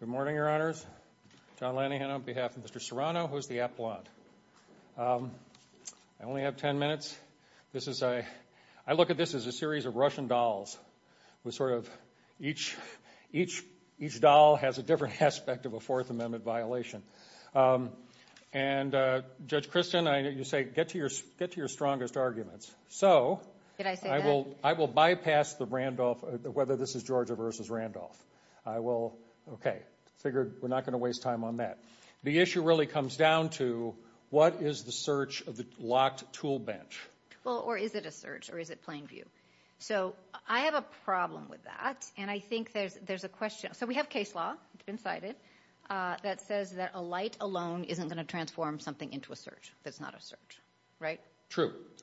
Good morning, Your Honors. John Lanihan on behalf of Mr. Serrano, who is the appellant. I only have 10 minutes. I look at this as a series of Russian dolls. Each doll has a different aspect of a Fourth Amendment violation. And Judge Kristen, you say, get to your strongest arguments. So I will bypass the Randolph, whether this is Georgia v. Randolph. I will, okay, figure we're not going to waste time on that. The issue really comes down to what is the search of the locked tool bench? Well, or is it a search, or is it plain view? So I have a problem with that, and I think there's a question. So we have case law inside it that says that a light alone isn't going to transform something into a search if it's not a search, right?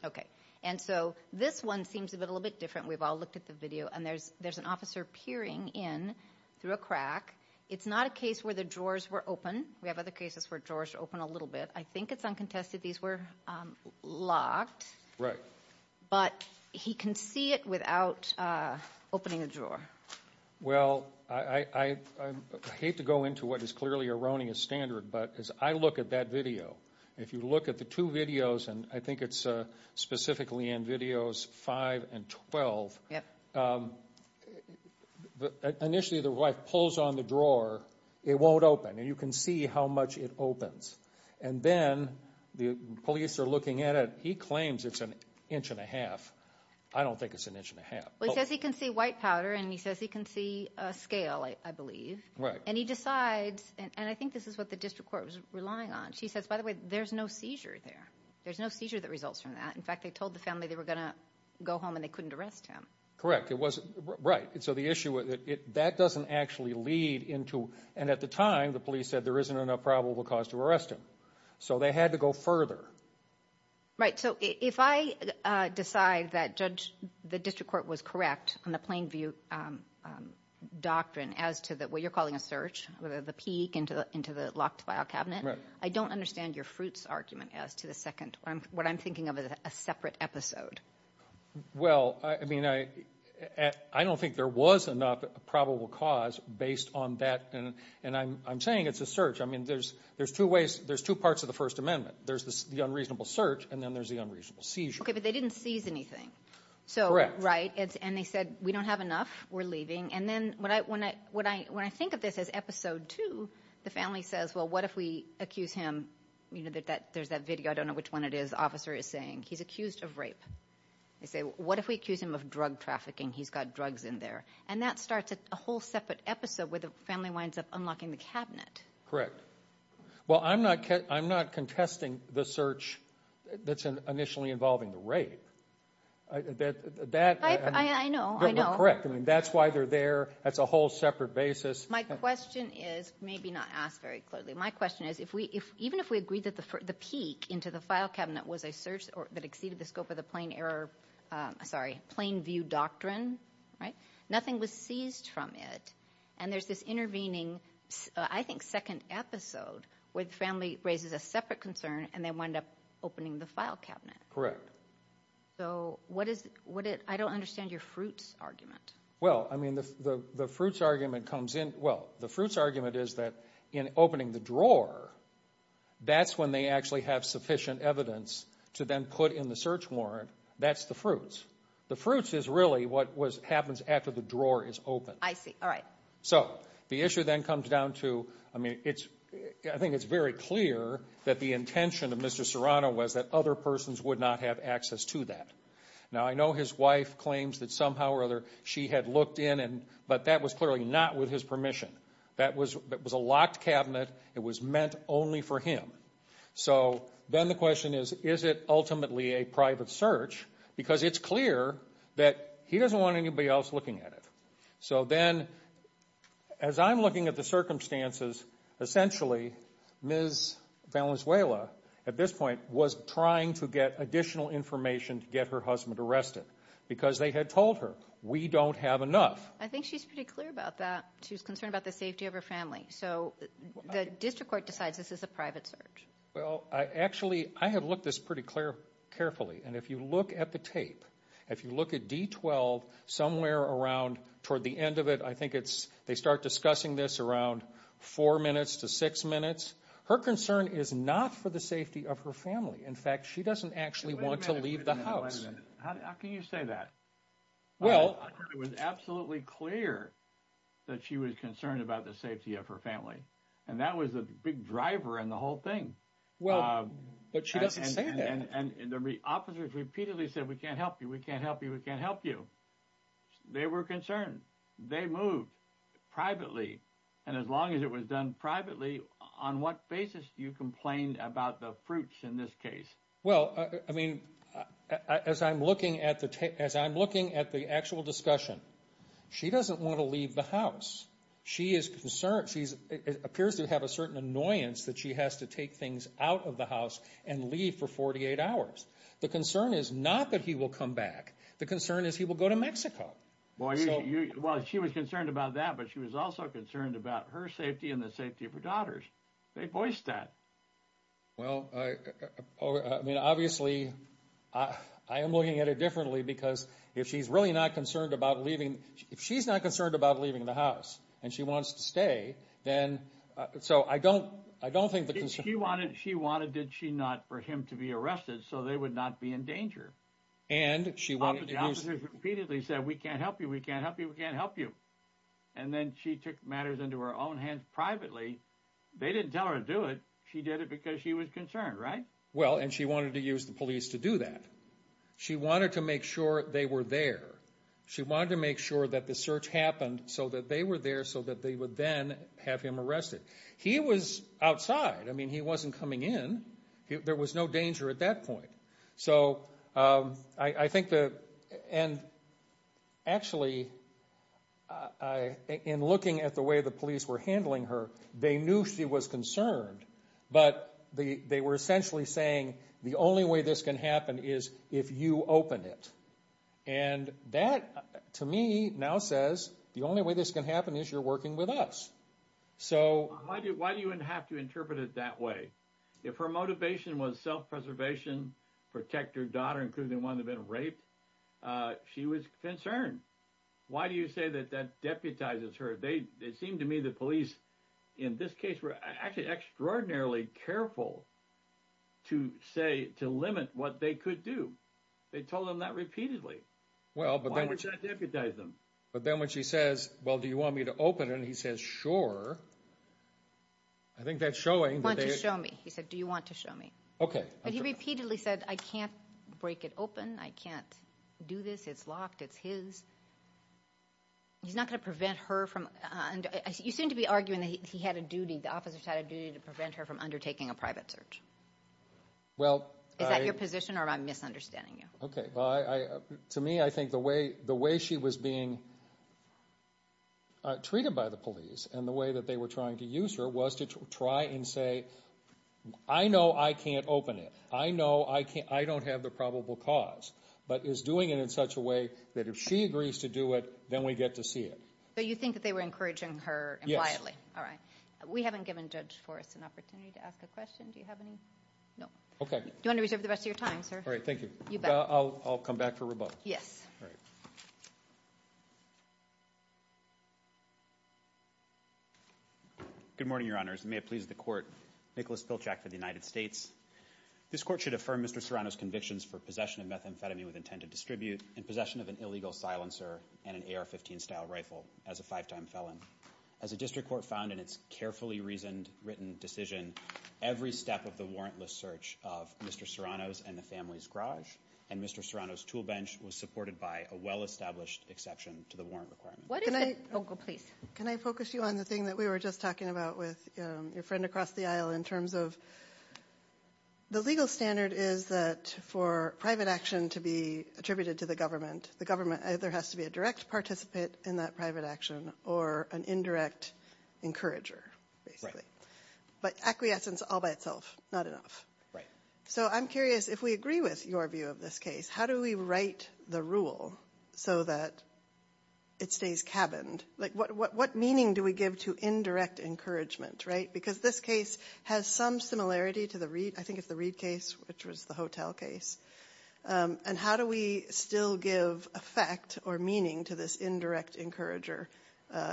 Okay, and so this one seems a little bit different. We've all looked at the video, and there's an officer peering in through a crack. It's not a case where the drawers were open. We have other cases where drawers open a little bit. I think it's uncontested these were locked. Right. But he can see it without opening the drawer. Well, I hate to go into what is clearly erroneous standard, but as I look at that video, if you look at the two videos, and I think it's specifically in videos 5 and 12, initially the wife pulls on the drawer. It won't open, and you can see how much it opens, and then the police are looking at it. He claims it's an inch and a half. I don't think it's an inch and a half. Well, he says he can see white powder, and he says he can see a scale, I believe. And he decides, and I think this is what the district court was relying on. She says, by the way, there's no seizure there. There's no seizure that results from that. In fact, they told the family they were going to go home, and they couldn't arrest him. Correct. Right. So the issue with it, that doesn't actually lead into, and at the time, the police said there isn't enough probable cause to arrest him. So they had to go further. Right. So if I decide that the district court was correct on the plain view doctrine as to what you're calling a search, the peek into the locked file cabinet, I don't understand your fruits argument as to the second. What I'm thinking of is a separate episode. Well, I mean, I don't think there was enough probable cause based on that, and I'm saying it's a search. I mean, there's two parts of the First Amendment. There's the unreasonable search, and then there's the unreasonable seizure. Okay, but they didn't seize anything. Correct. Right. And they said, we don't have enough. We're leaving. And then when I think of this as episode two, the family says, well, what if we accuse him? There's that video. I don't know which one it is. The officer is saying he's accused of rape. They say, what if we accuse him of drug trafficking? He's got drugs in there. And that starts a whole separate episode where the family winds up unlocking the cabinet. Correct. Well, I'm not contesting the search that's initially involving the rape. I know, I know. Correct. I mean, that's why they're there. That's a whole separate basis. My question is, maybe not asked very clearly. My question is, even if we agree that the peak into the file cabinet was a search that exceeded the scope of the plain view doctrine, right, nothing was seized from it. And there's this intervening, I think, second episode where the family raises a separate concern and they wind up opening the file cabinet. Correct. So, what is it? I don't understand your fruits argument. Well, I mean, the fruits argument comes in. Well, the fruits argument is that in opening the drawer, that's when they actually have sufficient evidence to then put in the search warrant. That's the fruits. The fruits is really what happens after the drawer is open. I see. All right. So, the issue then comes down to, I mean, I think it's very clear that the intention of Mr. Serrano was that other persons would not have access to that. Now, I know his wife claims that somehow or other she had looked in, but that was clearly not with his permission. That was a locked cabinet. It was meant only for him. So, then the question is, is it ultimately a private search? Because it's clear that he doesn't want anybody else looking at it. So, then, as I'm looking at the circumstances, essentially, Ms. Valenzuela, at this point, was trying to get additional information to get her husband arrested because they had told her, we don't have enough. I think she's pretty clear about that. She's concerned about the safety of her family. So, the district court decides this is a private search. Well, actually, I have looked at this pretty carefully. And if you look at the tape, if you look at D12, somewhere around, toward the end of it, I think it's, they start discussing this around four minutes to six minutes. Her concern is not for the safety of her family. In fact, she doesn't actually want to leave the house. How can you say that? Well. It was absolutely clear that she was concerned about the safety of her family. And that was a big driver in the whole thing. Well, but she doesn't say that. And the officers repeatedly said, we can't help you, we can't help you, we can't help you. They were concerned. They moved privately. And as long as it was done privately, on what basis do you complain about the fruits in this case? Well, I mean, as I'm looking at the actual discussion, she doesn't want to leave the house. She is concerned. She appears to have a certain annoyance that she has to take things out of the house and leave for 48 hours. The concern is not that he will come back. The concern is he will go to Mexico. Well, she was concerned about that, but she was also concerned about her safety and the safety of her daughters. They voiced that. Well, I mean, obviously, I am looking at it differently because if she's really not concerned about leaving, I mean, if she's not concerned about leaving the house and she wants to stay, then, so I don't, I don't think the concern... She wanted, did she not, for him to be arrested so they would not be in danger. And she wanted to use... The officers repeatedly said, we can't help you, we can't help you, we can't help you. And then she took matters into her own hands privately. They didn't tell her to do it. She did it because she was concerned, right? Well, and she wanted to use the police to do that. She wanted to make sure they were there. She wanted to make sure that the search happened so that they were there so that they would then have him arrested. He was outside. I mean, he wasn't coming in. There was no danger at that point. So, I think the... And actually, in looking at the way the police were handling her, they knew she was concerned, but they were essentially saying, the only way this can happen is if you open it. And that, to me, now says, the only way this can happen is you're working with us. So... Why do you have to interpret it that way? If her motivation was self-preservation, protect her daughter, including the one that had been raped, she was concerned. Why do you say that that deputizes her? It seemed to me the police, in this case, were actually extraordinarily careful to say, to limit what they could do. They told him that repeatedly. Well, but then... Why did that deputize them? But then when she says, well, do you want me to open it? And he says, sure. I think that's showing that they... Want to show me. He said, do you want to show me? Okay. But he repeatedly said, I can't break it open. I can't do this. It's locked. It's his. He's not going to prevent her from... You seem to be arguing that he had a duty, the officers had a duty to prevent her from undertaking a private search. Well, I... Okay. To me, I think the way she was being treated by the police and the way that they were trying to use her was to try and say, I know I can't open it. I know I don't have the probable cause. But is doing it in such a way that if she agrees to do it, then we get to see it. So you think that they were encouraging her impliedly? All right. We haven't given Judge Forrest an opportunity to ask a question. Do you have any? No. Okay. Do you want to reserve the rest of your time, sir? All right. Thank you. You bet. I'll come back for rebuttal. Yes. All right. Good morning, Your Honors. May it please the court. Nicholas Pilchak for the United States. This court should affirm Mr. Serrano's convictions for possession of methamphetamine with intent to distribute and possession of an illegal silencer and an AR-15 style rifle as a five-time felon. As a district court found in its carefully reasoned written decision, every step of the warrantless search of Mr. Serrano's and the family's garage and Mr. Serrano's tool bench was supported by a well-established exception to the warrant requirement. Can I focus you on the thing that we were just talking about with your friend across the aisle in terms of the legal standard is that for private action to be attributed to the government, the government either has to be a direct participant in that private action or an indirect encourager, basically. But acquiescence all by itself, not enough. Right. So I'm curious, if we agree with your view of this case, how do we write the rule so that it stays cabined? Like what meaning do we give to indirect encouragement, right? Because this case has some similarity to the Reed, I think it's the Reed case, which was the hotel case. And how do we still give effect or meaning to this indirect encourager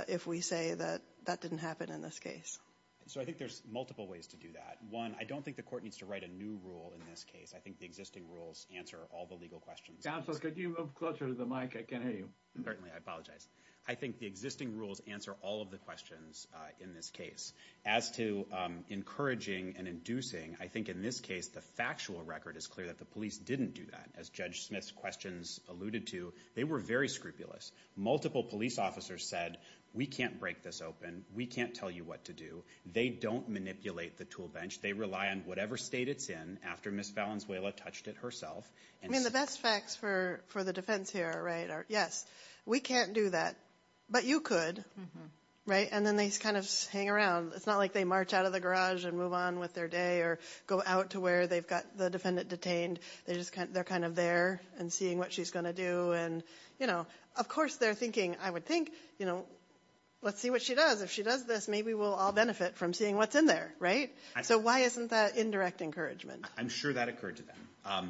if we say that that didn't happen in this case? So I think there's multiple ways to do that. One, I don't think the court needs to write a new rule in this case. I think the existing rules answer all the legal questions. Counsel, could you move closer to the mic? I can't hear you. Certainly. I apologize. I think the existing rules answer all of the questions in this case. As to encouraging and inducing, I think in this case the factual record is clear that the police didn't do that. As Judge Smith's questions alluded to, they were very scrupulous. Multiple police officers said, we can't break this open. We can't tell you what to do. They don't manipulate the tool bench. They rely on whatever state it's in. After Ms. Valenzuela touched it herself. I mean, the best facts for the defense here, right, are yes, we can't do that. But you could, right? And then they kind of hang around. It's not like they march out of the garage and move on with their day or go out to where they've got the defendant detained. They're kind of there and seeing what she's going to do. And, you know, of course they're thinking, I would think, you know, let's see what she does. If she does this, maybe we'll all benefit from seeing what's in there, right? So why isn't that indirect encouragement? I'm sure that occurred to them.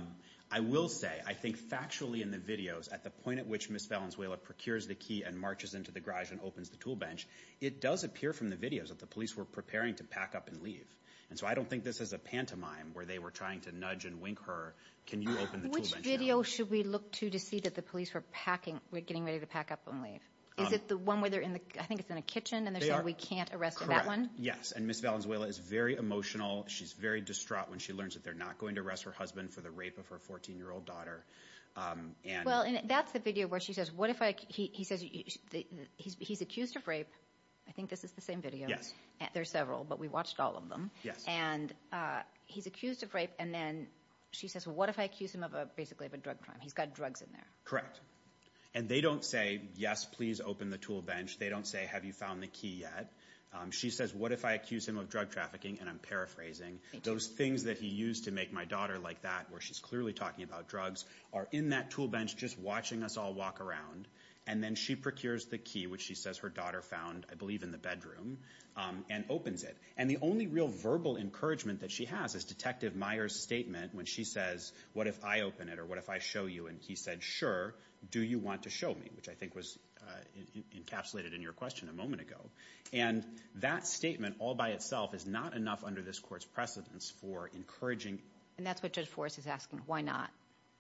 I will say, I think factually in the videos, at the point at which Ms. Valenzuela procures the key and marches into the garage and opens the tool bench, it does appear from the videos that the police were preparing to pack up and leave. And so I don't think this is a pantomime where they were trying to nudge and wink her. Can you open the tool bench now? Which video should we look to to see that the police were packing, getting ready to pack up and leave? Is it the one where they're in the, I think it's in a kitchen and they're saying we can't arrest that one? Yes, and Ms. Valenzuela is very emotional. She's very distraught when she learns that they're not going to arrest her husband for the rape of her 14-year-old daughter. Well, that's the video where she says, he's accused of rape. I think this is the same video. There are several, but we watched all of them. And he's accused of rape, and then she says, well, what if I accuse him of basically a drug crime? He's got drugs in there. Correct. And they don't say, yes, please open the tool bench. They don't say, have you found the key yet? She says, what if I accuse him of drug trafficking? And I'm paraphrasing. Those things that he used to make my daughter like that, where she's clearly talking about drugs, are in that tool bench just watching us all walk around. And then she procures the key, which she says her daughter found, I believe, in the bedroom, and opens it. And the only real verbal encouragement that she has is Detective Meyer's statement when she says, what if I open it or what if I show you? And he said, sure. Do you want to show me? Which I think was encapsulated in your question a moment ago. And that statement all by itself is not enough under this court's precedence for encouraging. And that's what Judge Forrest is asking. Why not?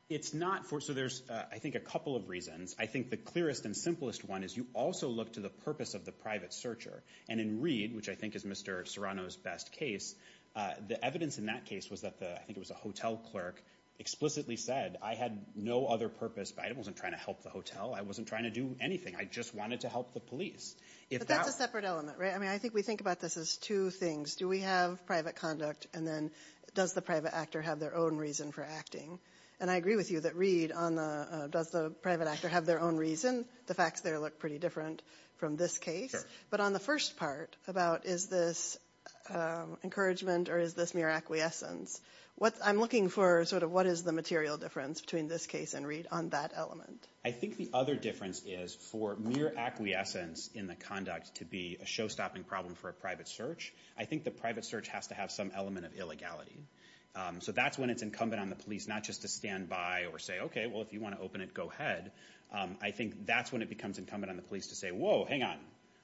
It's not. So there's, I think, a couple of reasons. I think the clearest and simplest one is you also look to the purpose of the private searcher. And in Reed, which I think is Mr. Serrano's best case, the evidence in that case was that I think it was a hotel clerk explicitly said, I had no other purpose. I wasn't trying to help the hotel. I wasn't trying to do anything. I just wanted to help the police. But that's a separate element, right? I mean, I think we think about this as two things. Do we have private conduct? And then does the private actor have their own reason for acting? And I agree with you that Reed, does the private actor have their own reason? The facts there look pretty different from this case. But on the first part about is this encouragement or is this mere acquiescence, I'm looking for sort of what is the material difference between this case and Reed on that element. I think the other difference is for mere acquiescence in the conduct to be a showstopping problem for a private search. I think the private search has to have some element of illegality. So that's when it's incumbent on the police not just to stand by or say, okay, well, if you want to open it, go ahead. I think that's when it becomes incumbent on the police to say, whoa, hang on.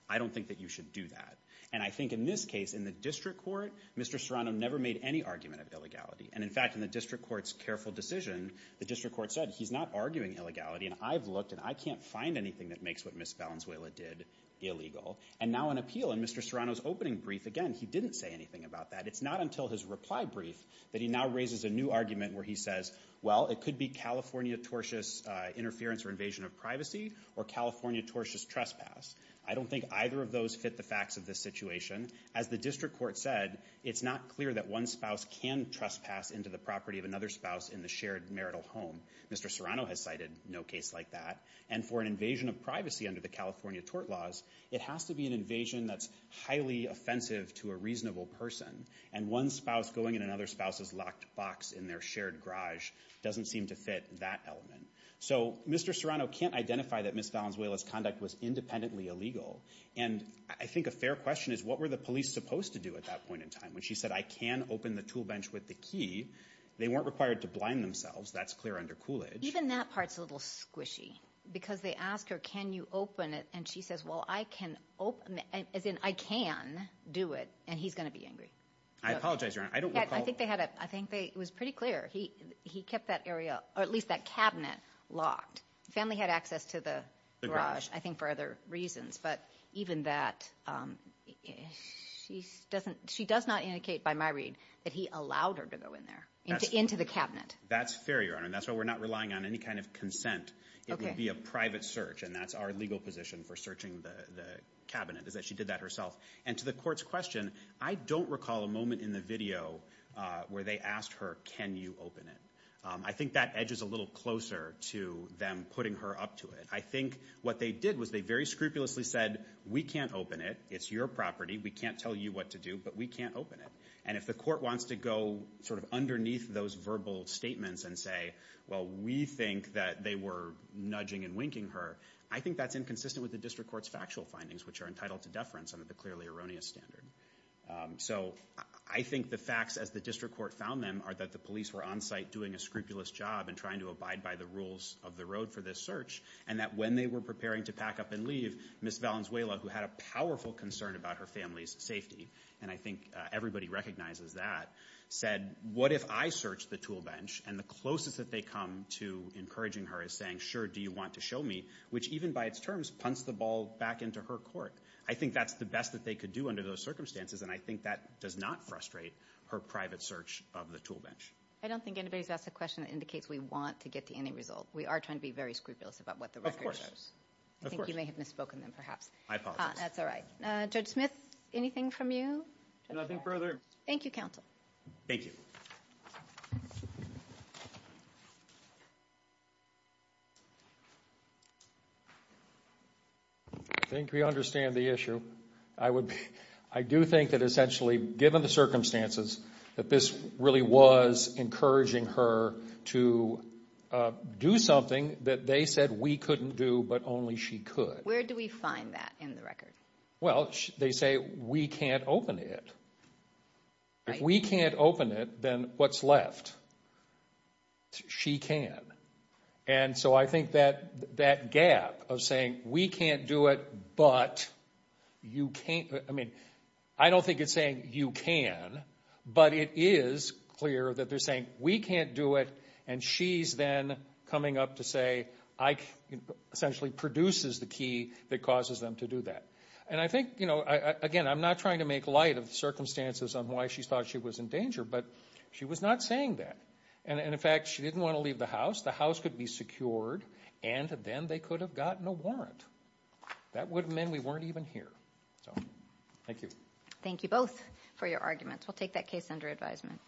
I don't think that you should do that. And I think in this case, in the district court, Mr. Serrano never made any argument of illegality. And, in fact, in the district court's careful decision, the district court said he's not arguing illegality. And I've looked and I can't find anything that makes what Ms. Valenzuela did illegal. And now an appeal in Mr. Serrano's opening brief, again, he didn't say anything about that. It's not until his reply brief that he now raises a new argument where he says, well, it could be California tortious interference or invasion of privacy or California tortious trespass. I don't think either of those fit the facts of this situation. As the district court said, it's not clear that one spouse can trespass into the property of another spouse in the shared marital home. Mr. Serrano has cited no case like that. And for an invasion of privacy under the California tort laws, it has to be an invasion that's highly offensive to a reasonable person. And one spouse going in another spouse's locked box in their shared garage doesn't seem to fit that element. So Mr. Serrano can't identify that Ms. Valenzuela's conduct was independently illegal. And I think a fair question is what were the police supposed to do at that point in time when she said, I can open the tool bench with the key? They weren't required to blind themselves. That's clear under Coolidge. Even that part's a little squishy because they ask her, can you open it? And she says, well, I can open it as in I can do it. And he's going to be angry. I apologize. I don't think they had it. I think it was pretty clear he he kept that area or at least that cabinet locked. Family had access to the garage, I think, for other reasons. But even that, she doesn't she does not indicate by my read that he allowed her to go in there into the cabinet. That's fair, Your Honor. And that's why we're not relying on any kind of consent. It would be a private search. And that's our legal position for searching the cabinet is that she did that herself. And to the court's question, I don't recall a moment in the video where they asked her, can you open it? I think that edges a little closer to them putting her up to it. I think what they did was they very scrupulously said, we can't open it. It's your property. We can't tell you what to do, but we can't open it. And if the court wants to go sort of underneath those verbal statements and say, well, we think that they were nudging and winking her. I think that's inconsistent with the district court's factual findings, which are entitled to deference under the clearly erroneous standard. So I think the facts as the district court found them are that the police were on site doing a scrupulous job and trying to abide by the rules of the road for this search. And that when they were preparing to pack up and leave, Miss Valenzuela, who had a powerful concern about her family's safety. And I think everybody recognizes that said, what if I search the tool bench? And the closest that they come to encouraging her is saying, sure, do you want to show me? Which even by its terms, punts the ball back into her court. I think that's the best that they could do under those circumstances. And I think that does not frustrate her private search of the tool bench. I don't think anybody's asked a question that indicates we want to get to any result. We are trying to be very scrupulous about what the record shows. I think you may have misspoken then, perhaps. I apologize. That's all right. Judge Smith, anything from you? Nothing further. Thank you, counsel. Thank you. I think we understand the issue. I do think that essentially, given the circumstances, that this really was encouraging her to do something that they said we couldn't do but only she could. Where do we find that in the record? Well, they say we can't open it. If we can't open it, then what's left? She can. And so I think that gap of saying we can't do it but you can't. I mean, I don't think it's saying you can. But it is clear that they're saying we can't do it, and she's then coming up to say I essentially produces the key that causes them to do that. And I think, again, I'm not trying to make light of the circumstances on why she thought she was in danger, but she was not saying that. And in fact, she didn't want to leave the house. The house could be secured, and then they could have gotten a warrant. That would have meant we weren't even here. So thank you. Thank you both for your arguments. We'll take that case under advisement.